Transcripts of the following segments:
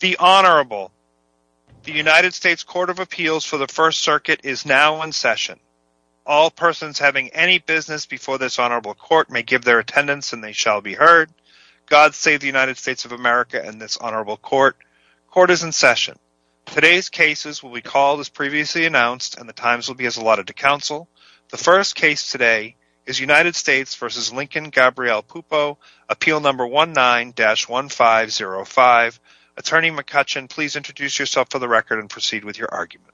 The Honorable. The United States Court of Appeals for the First Circuit is now in session. All persons having any business before this Honorable Court may give their attendance and they shall be heard. God save the United States of America and this Honorable Court. Court is in session. Today's cases will be called as previously announced and the times will be as allotted to counsel. The first case today is United States v. Lincoln Gabrielle Pupo, appeal number 19-1505. Attorney McCutcheon, please introduce yourself for the record and proceed with your argument.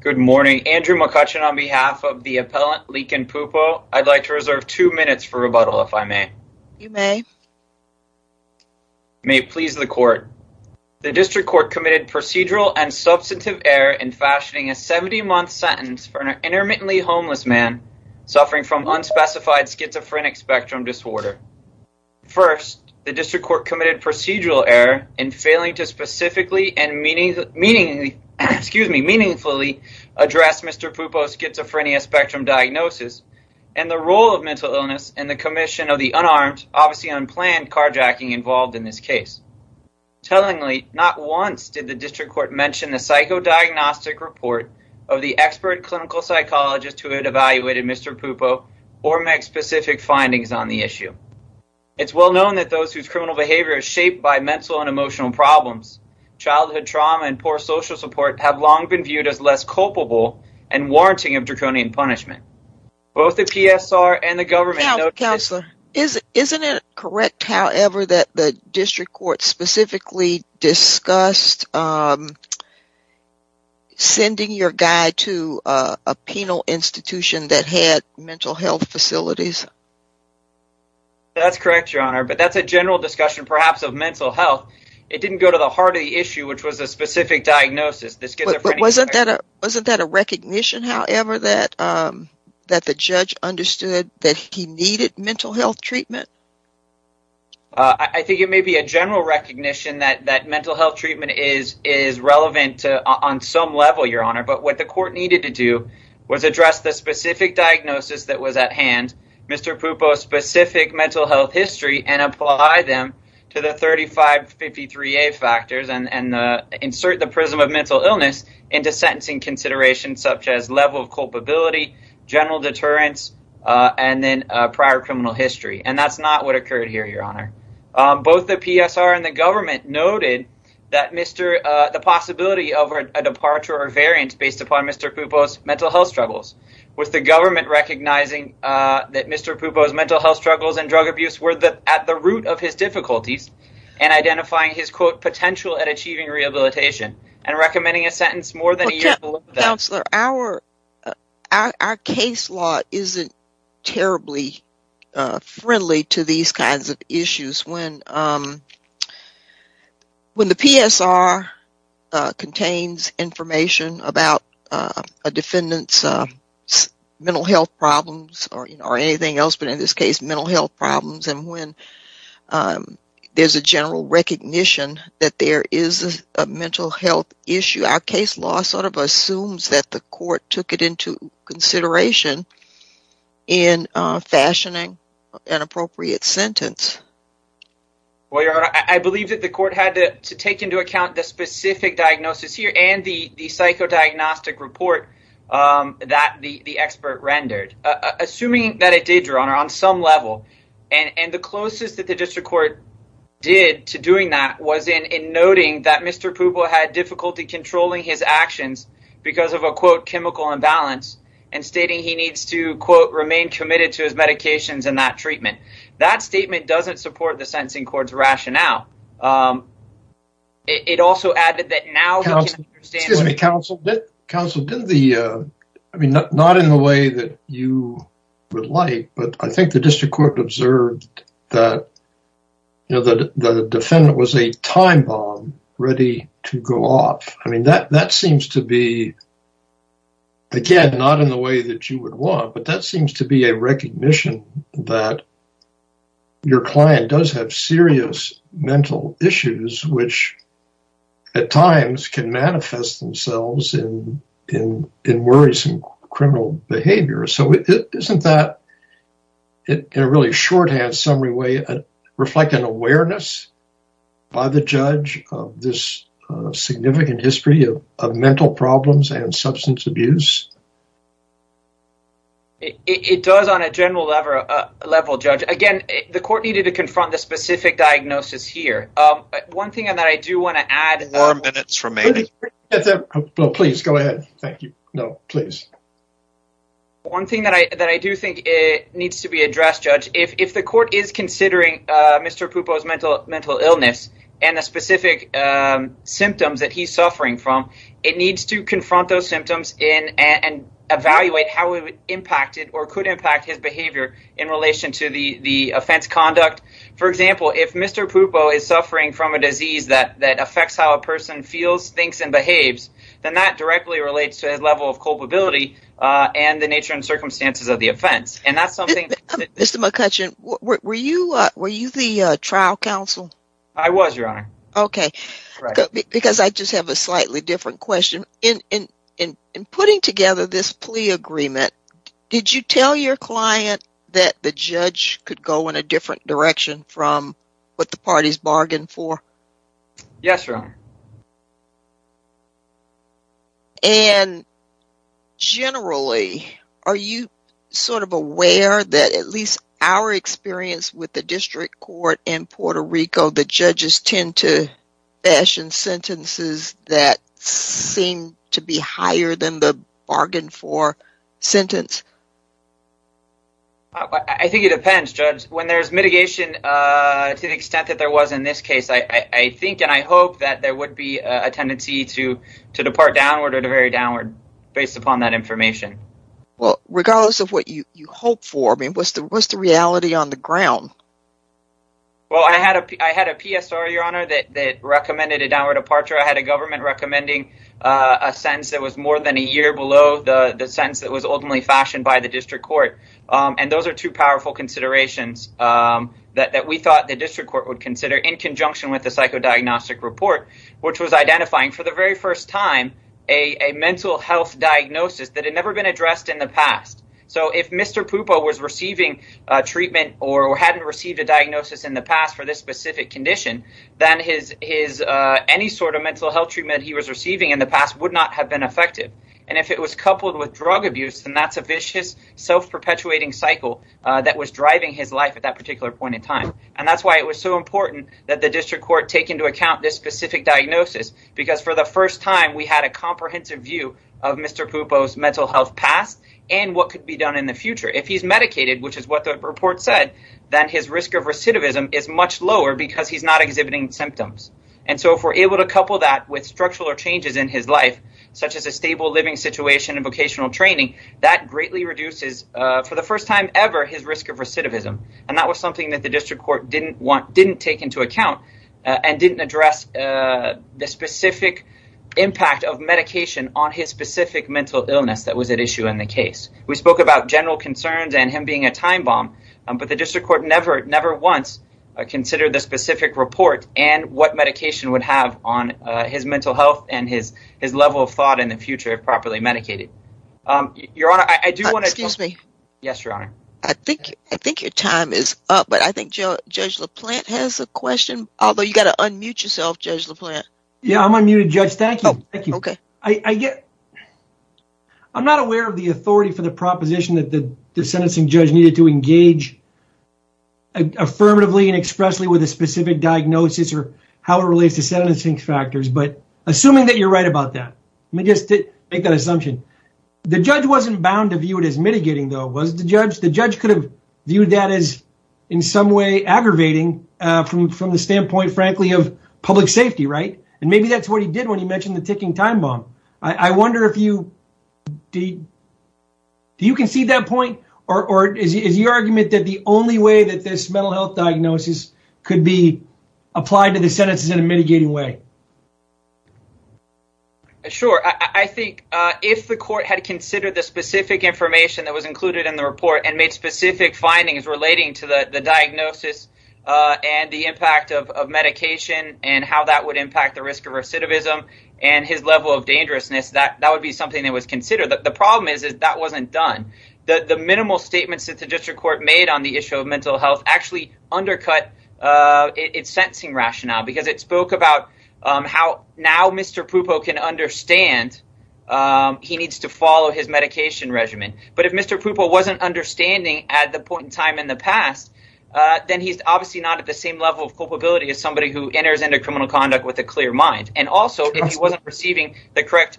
Good morning. Andrew McCutcheon on behalf of the appellant, Lincoln Pupo. I'd like to reserve two minutes for rebuttal if I may. You may. May it please the court. The district court committed procedural and substantive error in fashioning a 70-month sentence for an intermittently homeless man suffering from unspecified schizophrenic spectrum disorder. First, the district court committed procedural error in failing to specifically and meaningfully address Mr. Pupo's schizophrenia spectrum diagnosis and the role of mental illness in the commission of the unarmed, obviously unplanned carjacking involved in this case. Tellingly, not once did the district court mention the psychodiagnostic report of the expert clinical psychologist who had evaluated Mr. Pupo or make specific findings on the issue. It's well known that those whose criminal behavior is shaped by mental and emotional problems, childhood trauma, and poor social support have long been viewed as less culpable and warranting of draconian punishment. Both the PSR and the government… Isn't it correct, however, that the district court specifically discussed sending your guy to a penal institution that had mental health facilities? That's correct, Your Honor, but that's a general discussion perhaps of mental health. It didn't go to the heart of the issue, which was a specific diagnosis. Wasn't that a recognition, however, that the judge understood that he needed mental health treatment? I think it may be a general recognition that mental health treatment is relevant on some level, Your Honor, but what the court needed to do was address the specific diagnosis that was at hand, Mr. Pupo's specific mental health history, and apply them to the 3553A factors and insert the prism of mental illness into sentencing considerations such as level of culpability, general deterrence, and then prior criminal history. That's not what occurred here, Your Honor. Both the PSR and the government noted the possibility of a departure or variance based upon Mr. Pupo's mental health struggles, with the government recognizing that Mr. Pupo's mental health struggles and drug abuse were at the root of his difficulties and identifying his potential at achieving rehabilitation and recommending a sentence more than a year below that. Our case law isn't terribly friendly to these kinds of issues. When the PSR contains information about a defendant's mental health problems or anything else, but in this case mental health problems, and when there's a general recognition that there is a mental health issue, our case law sort of assumes that the court took it into consideration in fashioning an appropriate sentence. Well, Your Honor, I believe that the court had to take into account the specific diagnosis here and the psychodiagnostic report that the expert rendered. Assuming that it did, Your Honor, on some level, and the closest that the district court did to doing that was in noting that Mr. Pupo had difficulty controlling his actions because of a, quote, chemical imbalance and stating he needs to, quote, remain committed to his medications and that treatment. That statement doesn't support the sentencing court's rationale. It also added that now he can understand… Counsel, not in the way that you would like, but I think the district court observed that the defendant was a time bomb ready to go off. I mean, that seems to be, again, not in the way that you would want, but that seems to be a recognition that your client does have serious mental issues, which at times can manifest themselves in worrisome criminal behavior. So isn't that, in a really shorthand summary way, reflect an awareness by the judge of this significant history of mental problems and substance abuse? It does on a general level, Judge. Again, the court needed to confront the specific diagnosis here. One thing that I do want to add… Four minutes remaining. Please go ahead. Thank you. No, please. One thing that I do think needs to be addressed, Judge, if the court is considering Mr. Pupo's mental illness and the specific symptoms that he's suffering from, it needs to confront those symptoms and evaluate how it impacted or could impact his behavior in relation to the offense conduct. For example, if Mr. Pupo is suffering from a disease that affects how a person feels, thinks, and behaves, then that directly relates to his level of culpability and the nature and circumstances of the offense. Mr. McCutcheon, were you the trial counsel? I was, Your Honor. Okay. Because I just have a slightly different question. In putting together this plea agreement, did you tell your client that the judge could go in a different direction from what the parties bargained for? And generally, are you sort of aware that at least our experience with the district court in Puerto Rico, the judges tend to fashion sentences that seem to be higher than the bargain for sentence? I think it depends, Judge. When there's mitigation to the extent that there was in this case, I think and I hope that there would be a tendency to depart downward or to vary downward based upon that information. Well, regardless of what you hope for, I mean, what's the reality on the ground? Well, I had a PSR, Your Honor, that recommended a downward departure. I had a government recommending a sentence that was more than a year below the sentence that was ultimately fashioned by the district court. And those are two powerful considerations that we thought the district court would consider in conjunction with the psychodiagnostic report, which was identifying for the very first time a mental health diagnosis that had never been addressed in the past. So if Mr. Pupo was receiving treatment or hadn't received a diagnosis in the past for this specific condition, then any sort of mental health treatment he was receiving in the past would not have been effective. And if it was coupled with drug abuse, then that's a vicious, self-perpetuating cycle that was driving his life at that particular point in time. And that's why it was so important that the district court take into account this specific diagnosis, because for the first time we had a comprehensive view of Mr. Pupo's mental health past and what could be done in the future. If he's medicated, which is what the report said, then his risk of recidivism is much lower because he's not exhibiting symptoms. And so if we're able to couple that with structural changes in his life, such as a stable living situation and vocational training, that greatly reduces, for the first time ever, his risk of recidivism. And that was something that the district court didn't take into account and didn't address the specific impact of medication on his specific mental illness that was at issue in the case. We spoke about general concerns and him being a time bomb, but the district court never once considered the specific report and what medication would have on his mental health and his level of thought in the future if properly medicated. Your Honor, I do want to... Excuse me. Yes, Your Honor. I think your time is up, but I think Judge LaPlante has a question, although you've got to unmute yourself, Judge LaPlante. Yeah, I'm unmuted, Judge. Thank you. Okay. I'm not aware of the authority for the proposition that the sentencing judge needed to engage affirmatively and expressly with a specific diagnosis or how it relates to sentencing factors. But assuming that you're right about that, let me just make that assumption. The judge wasn't bound to view it as mitigating, though, was the judge? The judge could have viewed that as in some way aggravating from the standpoint, frankly, of public safety, right? And maybe that's what he did when he mentioned the ticking time bomb. I wonder if you... Do you concede that point or is your argument that the only way that this mental health diagnosis could be applied to the sentences in a mitigating way? Sure. I think if the court had considered the specific information that was included in the report and made specific findings relating to the diagnosis and the impact of medication and how that would impact the risk of recidivism and his level of dangerousness, that would be something that was considered. The problem is that that wasn't done. The minimal statements that the district court made on the issue of mental health actually undercut its sentencing rationale because it spoke about how now Mr. Pupo can understand he needs to follow his medication regimen. But if Mr. Pupo wasn't understanding at the point in time in the past, then he's obviously not at the same level of culpability as somebody who enters into criminal conduct with a clear mind. And also if he wasn't receiving the correct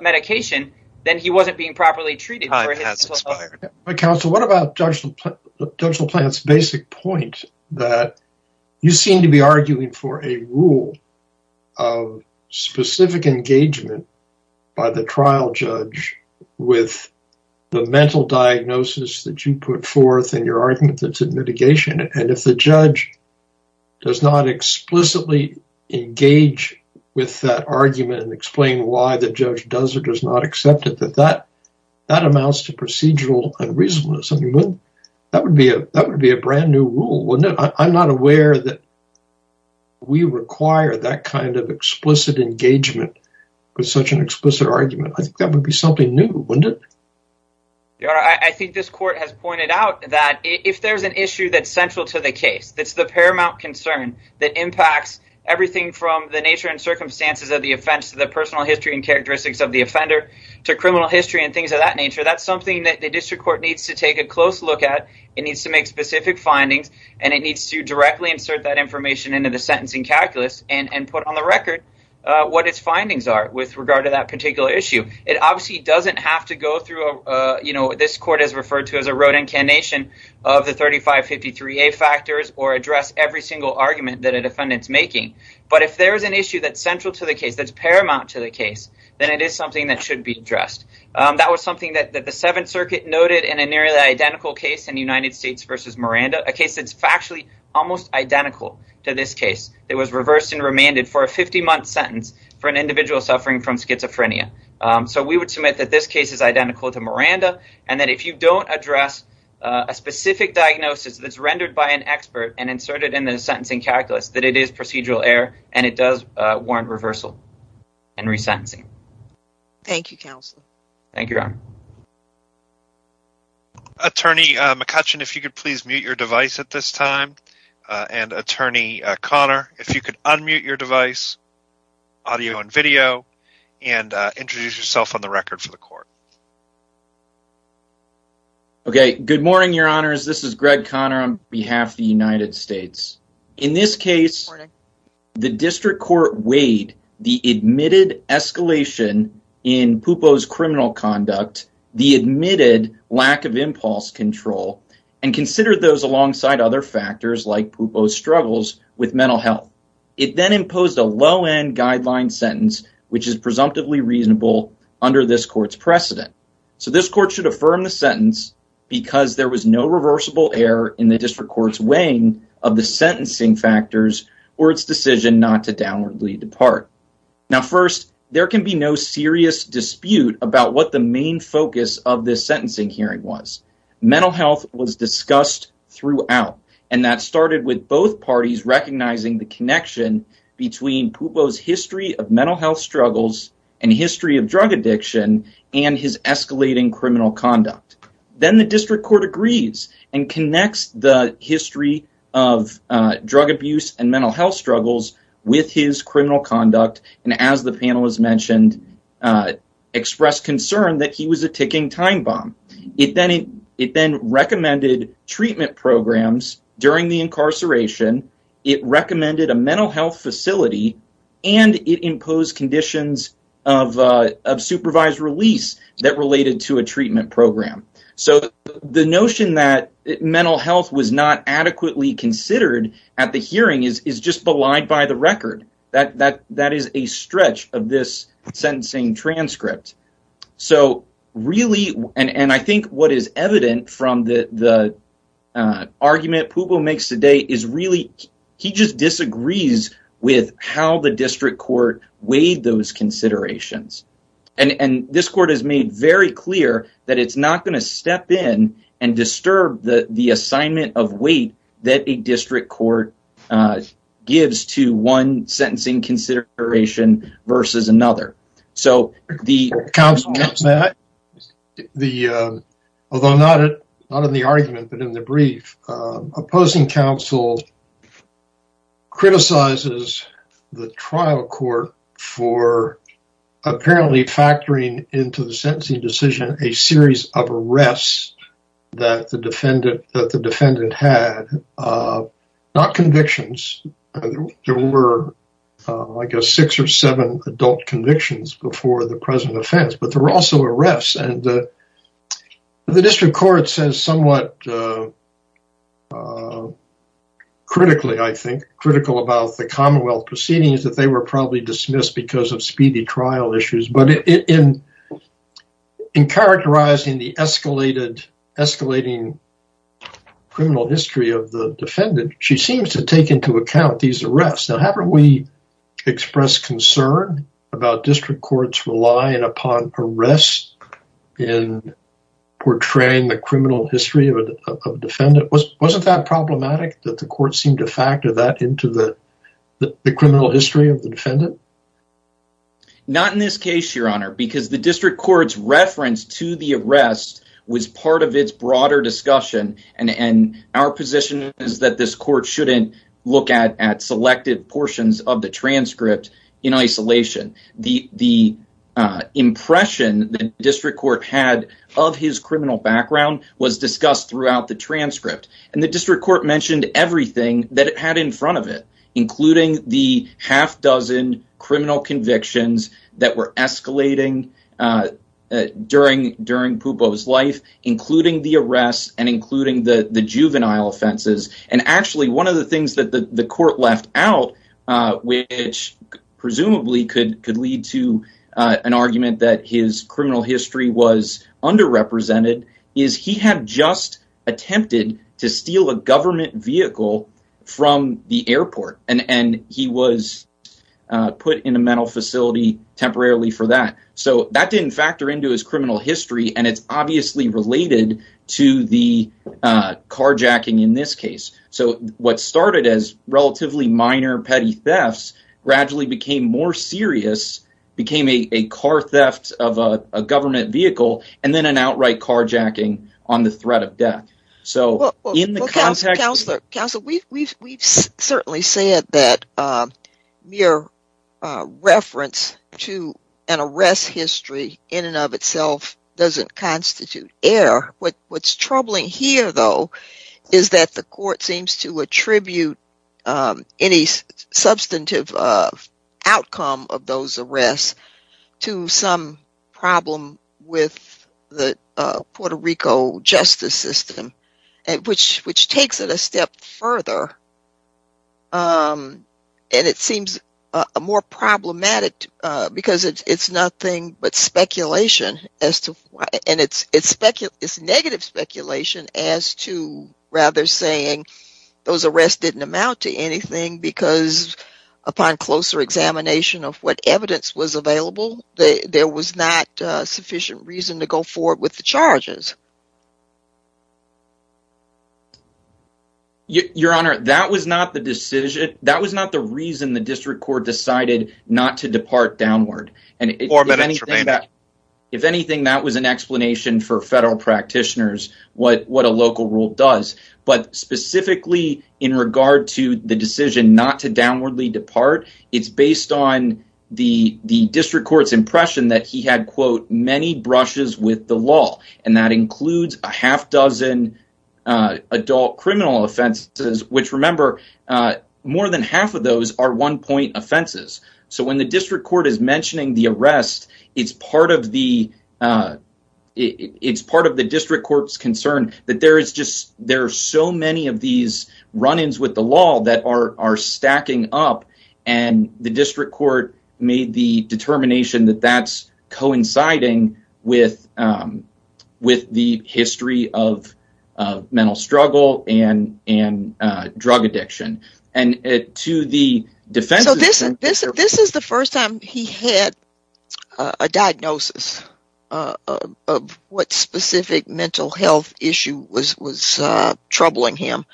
medication, then he wasn't being properly treated. Time has expired. Counsel, what about Judge LaPlante's basic point that you seem to be arguing for a rule of specific engagement by the trial judge with the mental diagnosis that you put forth and your argument that's in mitigation. And if the judge does not explicitly engage with that argument and explain why the judge does or does not accept it, that amounts to procedural unreasonableness. That would be a brand new rule, wouldn't it? I'm not aware that we require that kind of explicit engagement with such an explicit argument. I think that would be something new, wouldn't it? I think this court has pointed out that if there's an issue that's central to the case, that's the paramount concern that impacts everything from the nature and circumstances of the offense to the personal history and characteristics of the offender to criminal history and things of that nature. That's something that the district court needs to take a close look at. It needs to make specific findings and it needs to directly insert that information into the sentencing calculus and put on the record what its findings are with regard to that particular issue. It obviously doesn't have to go through what this court has referred to as a rote incantation of the 3553A factors or address every single argument that a defendant's making. But if there is an issue that's central to the case, that's paramount to the case, then it is something that should be addressed. That was something that the Seventh Circuit noted in a nearly identical case in the United States versus Miranda, a case that's factually almost identical to this case. It was reversed and remanded for a 50-month sentence for an individual suffering from schizophrenia. So we would submit that this case is identical to Miranda and that if you don't address a specific diagnosis that's rendered by an expert and inserted in the sentencing calculus, that it is procedural error and it does warrant reversal and resentencing. Thank you, counsel. Thank you, Your Honor. Attorney McCutcheon, if you could please mute your device at this time. And Attorney Conner, if you could unmute your device, audio and video, and introduce yourself on the record for the court. Okay, good morning, Your Honors. This is Greg Conner on behalf of the United States. In this case, the district court weighed the admitted escalation in Pupo's criminal conduct, the admitted lack of impulse control, and considered those alongside other factors like Pupo's struggles with mental health. It then imposed a low-end guideline sentence, which is presumptively reasonable under this court's precedent. So this court should affirm the sentence because there was no reversible error in the district court's weighing of the sentencing factors or its decision not to downwardly depart. Now, first, there can be no serious dispute about what the main focus of this sentencing hearing was. Mental health was discussed throughout, and that started with both parties recognizing the connection between Pupo's history of mental health struggles and history of drug addiction and his escalating criminal conduct. Then the district court agrees and connects the history of drug abuse and mental health struggles with his criminal conduct and, as the panel has mentioned, expressed concern that he was a ticking time bomb. It then recommended treatment programs during the incarceration, it recommended a mental health facility, and it imposed conditions of supervised release that related to a treatment program. So the notion that mental health was not adequately considered at the hearing is just belied by the record. That is a stretch of this sentencing transcript. So really, and I think what is evident from the argument Pupo makes today is really, he just disagrees with how the district court weighed those considerations. And this court has made very clear that it's not going to step in and disturb the assignment of weight that a district court gives to one sentencing consideration versus another. Although not in the argument, but in the brief, opposing counsel criticizes the trial court for apparently factoring into the sentencing decision a series of arrests that the defendant had, not convictions. There were, I guess, six or seven adult convictions before the present offense, but there were also arrests and the district court says somewhat critically, I think, critical about the Commonwealth proceedings that they were probably dismissed because of speedy trial issues. But in characterizing the escalating criminal history of the defendant, she seems to take into account these arrests. Now, haven't we expressed concern about district courts relying upon arrests in portraying the criminal history of a defendant? Wasn't that problematic that the court seemed to factor that into the criminal history of the defendant? Not in this case, Your Honor, because the district court's reference to the arrest was part of its broader discussion. And our position is that this court shouldn't look at selected portions of the transcript in isolation. The impression the district court had of his criminal background was discussed throughout the transcript. And the district court mentioned everything that it had in front of it, including the half dozen criminal convictions that were escalating during Pupo's life, including the arrests and including the juvenile offenses. And actually, one of the things that the court left out, which presumably could could lead to an argument that his criminal history was underrepresented, is he had just attempted to steal a government vehicle from the airport and he was put in a mental facility temporarily for that. So that didn't factor into his criminal history, and it's obviously related to the carjacking in this case. So what started as relatively minor petty thefts gradually became more serious, became a car theft of a government vehicle, and then an outright carjacking on the threat of death. Counselor, we've certainly said that mere reference to an arrest history in and of itself doesn't constitute error. What's troubling here, though, is that the court seems to attribute any substantive outcome of those arrests to some problem with the Puerto Rico justice system, which takes it a step further. And it seems more problematic because it's nothing but speculation, and it's negative speculation as to rather saying those arrests didn't amount to anything because upon closer examination of what evidence was available, there was not sufficient reason to go forward with the charges. Your Honor, that was not the decision. That was not the reason the district court decided not to depart downward. And if anything, that was an explanation for federal practitioners what a local rule does. But specifically in regard to the decision not to downwardly depart, it's based on the district court's impression that he had, quote, many brushes with the law. And that includes a half dozen adult criminal offenses, which, remember, more than half of those are one point offenses. So when the district court is mentioning the arrest, it's part of the district court's concern that there are so many of these run-ins with the law that are stacking up, and the district court made the determination that that's coinciding with the history of mental struggle and drug addiction. So this is the first time he had a diagnosis of what specific mental health issue was troubling him.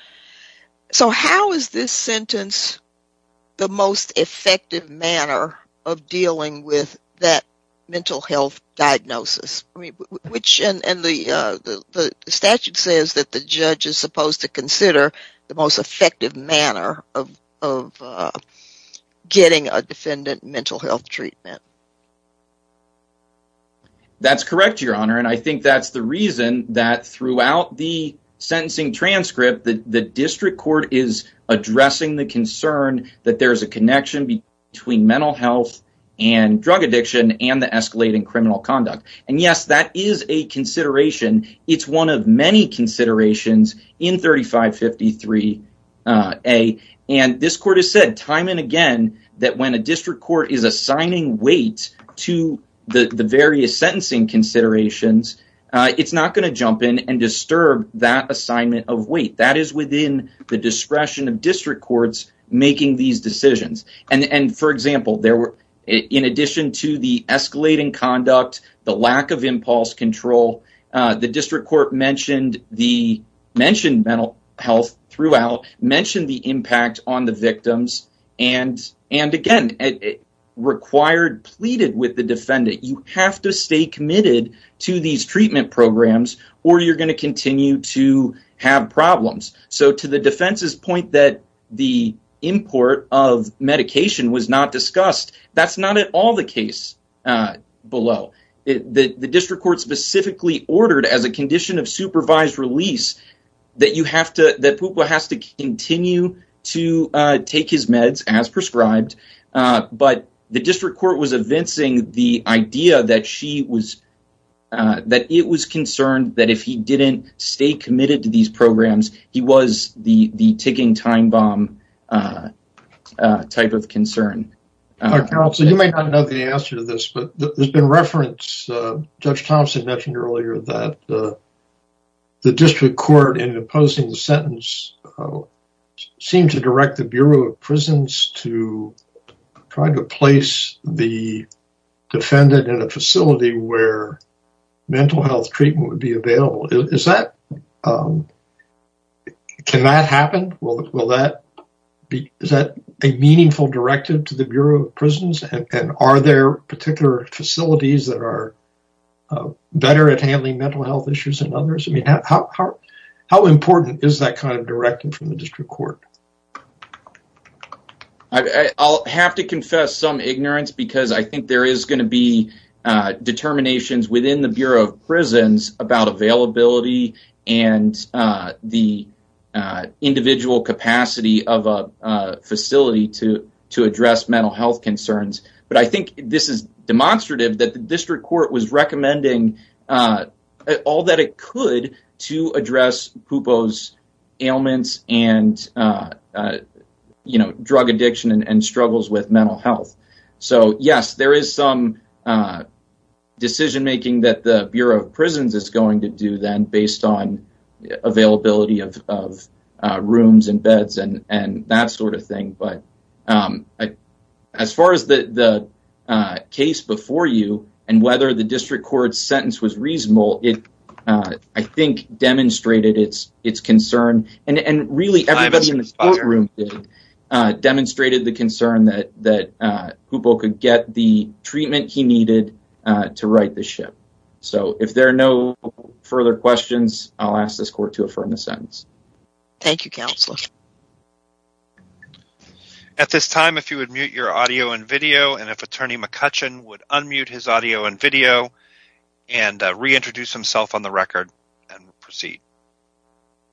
So how is this sentence the most effective manner of dealing with that mental health diagnosis? The statute says that the judge is supposed to consider the most effective manner of getting a defendant mental health treatment. That's correct, Your Honor. And I think that's the reason that throughout the sentencing transcript, the district court is addressing the concern that there is a connection between mental health and drug addiction and the escalating criminal conduct. And, yes, that is a consideration. It's one of many considerations in 3553A. And this court has said time and again that when a district court is assigning weight to the various sentencing considerations, it's not going to jump in and disturb that assignment of weight. That is within the discretion of district courts making these decisions. And for example, in addition to the escalating conduct, the lack of impulse control, the district court mentioned mental health throughout, mentioned the impact on the victims, and again, required pleaded with the defendant. You have to stay committed to these treatment programs or you're going to continue to have problems. So to the defense's point that the import of medication was not discussed, that's not at all the case below. The district court specifically ordered as a condition of supervised release that Pupua has to continue to take his meds as prescribed. But the district court was evincing the idea that it was concerned that if he didn't stay committed to these programs, he was the ticking time bomb type of concern. Counsel, you may not know the answer to this, but there's been reference. Judge Thompson mentioned earlier that the district court in imposing the sentence seemed to direct the Bureau of Prisons to try to place the defendant in a facility where mental health treatment would be available. Is that, can that happen? Is that a meaningful directive to the Bureau of Prisons? And are there particular facilities that are better at handling mental health issues than others? How important is that kind of directive from the district court? I'll have to confess some ignorance because I think there is going to be determinations within the Bureau of Prisons about availability and the individual capacity of a facility to address mental health concerns. But I think this is demonstrative that the district court was recommending all that it could to address Pupua's ailments and, you know, drug addiction and struggles with mental health. So, yes, there is some decision making that the Bureau of Prisons is going to do then based on availability of rooms and beds and that sort of thing. But as far as the case before you and whether the district court sentence was reasonable, it, I think, demonstrated its concern. And really everybody in this courtroom demonstrated the concern that Pupua could get the treatment he needed to right the ship. So if there are no further questions, I'll ask this court to affirm the sentence. Thank you, Counselor. At this time, if you would mute your audio and video and if Attorney McCutcheon would unmute his audio and video and reintroduce himself on the record and proceed.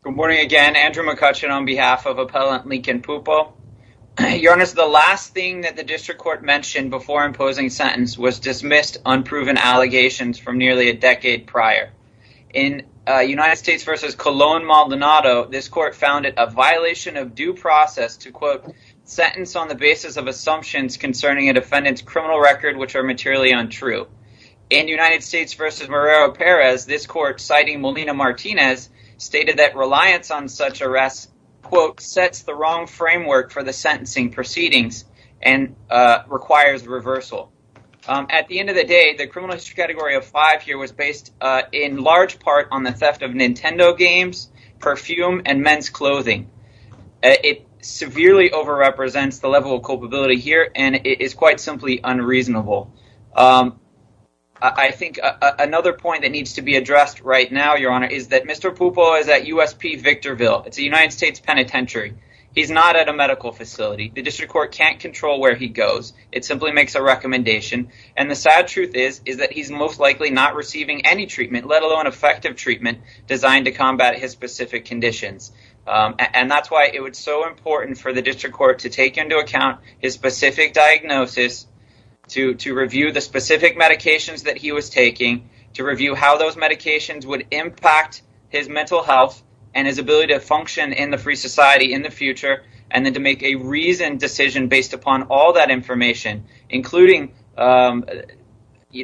Good morning again. Andrew McCutcheon on behalf of Appellant Lincoln Pupua. Your Honor, the last thing that the district court mentioned before imposing sentence was dismissed unproven allegations from nearly a decade prior. In United States versus Colon Maldonado, this court found it a violation of due process to, quote, sentence on the basis of assumptions concerning a defendant's criminal record, which are materially untrue. In United States versus Marrero Perez, this court, citing Molina Martinez, stated that reliance on such arrests, quote, sets the wrong framework for the sentencing proceedings and requires reversal. At the end of the day, the criminal history category of five here was based in large part on the theft of Nintendo games, perfume and men's clothing. It severely overrepresents the level of culpability here and it is quite simply unreasonable. I think another point that needs to be addressed right now, Your Honor, is that Mr. Pupua is at USP Victorville. It's a United States penitentiary. He's not at a medical facility. The district court can't control where he goes. It simply makes a recommendation. And the sad truth is, is that he's most likely not receiving any treatment, let alone effective treatment designed to combat his specific conditions. And that's why it was so important for the district court to take into account his specific diagnosis, to review the specific medications that he was taking, to review how those medications would impact his mental health and his ability to function in the free society in the future, and then to make a reasoned decision based upon all that information, including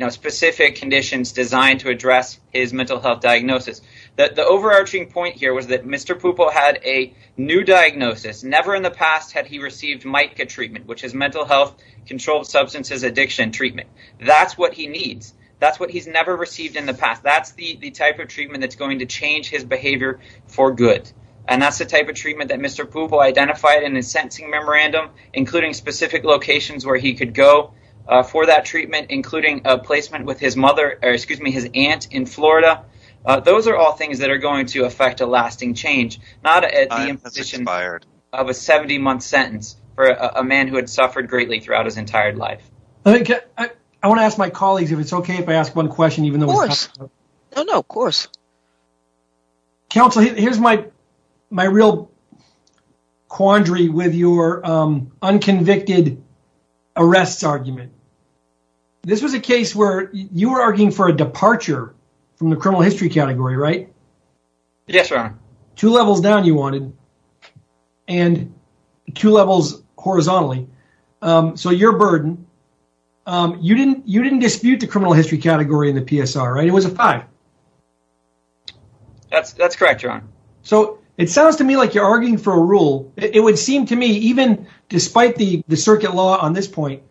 specific conditions designed to address his mental health diagnosis. The overarching point here was that Mr. Pupua had a new diagnosis. Never in the past had he received MICA treatment, which is mental health controlled substances addiction treatment. That's what he needs. That's what he's never received in the past. That's the type of treatment that's going to change his behavior for good. And that's the type of treatment that Mr. Pupua identified in his sentencing memorandum, including specific locations where he could go for that treatment, including a placement with his mother or excuse me, his aunt in Florida. Those are all things that are going to affect a lasting change, not at the imposition of a 70 month sentence for a man who had suffered greatly throughout his entire life. I want to ask my colleagues if it's OK if I ask one question, even though. No, no, of course. Counsel, here's my my real quandary with your unconvicted arrests argument. This was a case where you were arguing for a departure from the criminal history category, right? Yes, sir. Two levels down, you wanted and two levels horizontally. So your burden, you didn't you didn't dispute the criminal history category in the PSR, right? It was a five. That's that's correct, John. So it sounds to me like you're arguing for a rule. It would seem to me, even despite the circuit law on this point,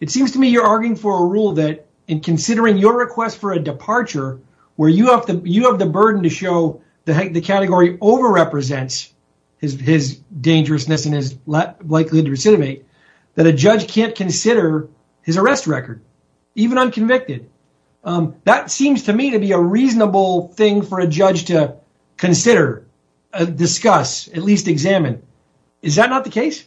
it seems to me you're arguing for a rule that in considering your request for a departure where you have the you have the burden to show that the category over represents his dangerousness and is likely to recidivate that a judge can't consider his arrest record, even unconvicted. That seems to me to be a reasonable thing for a judge to consider, discuss, at least examine. Is that not the case?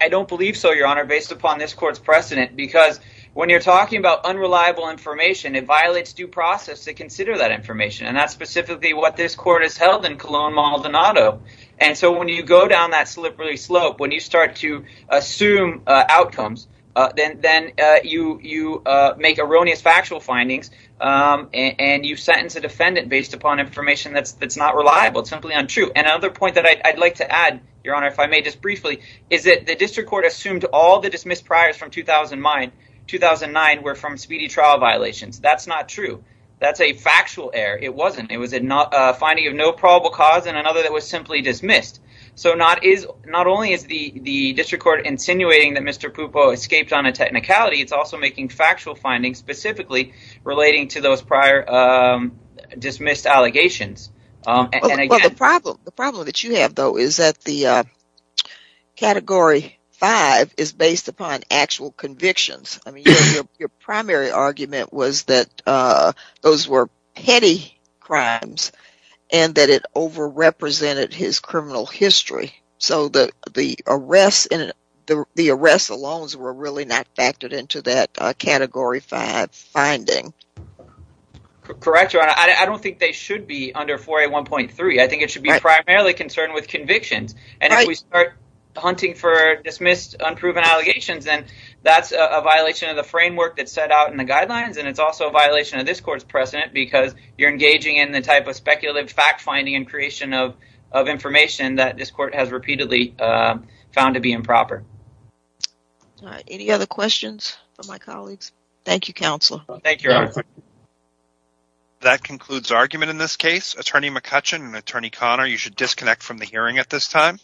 I don't believe so, your honor, based upon this court's precedent, because when you're talking about unreliable information, it violates due process to consider that information. And that's specifically what this court has held in Cologne, Maldonado. And so when you go down that slippery slope, when you start to assume outcomes, then then you you make erroneous factual findings and you sentence a defendant based upon information that's that's not reliable, simply untrue. And another point that I'd like to add, your honor, if I may just briefly, is that the district court assumed all the dismissed priors from 2009 were from speedy trial violations. That's not true. That's a factual error. It wasn't. It was not a finding of no probable cause and another that was simply dismissed. So not is not only is the district court insinuating that Mr. Pupo escaped on a technicality, it's also making factual findings specifically relating to those prior dismissed allegations. And the problem the problem that you have, though, is that the category five is based upon actual convictions. I mean, your primary argument was that those were petty crimes and that it overrepresented his criminal history. So the the arrests and the arrests alone were really not factored into that category five finding. Correct, your honor. I don't think they should be under 4A1.3. I think it should be primarily concerned with convictions. And if we start hunting for dismissed, unproven allegations, then that's a violation of the framework that set out in the guidelines. And it's also a violation of this court's precedent because you're engaging in the type of speculative fact, finding and creation of of information that this court has repeatedly found to be improper. Any other questions for my colleagues? Thank you, counsel. Thank you. That concludes argument in this case. Attorney McCutcheon and Attorney Conner, you should disconnect from the hearing at this time.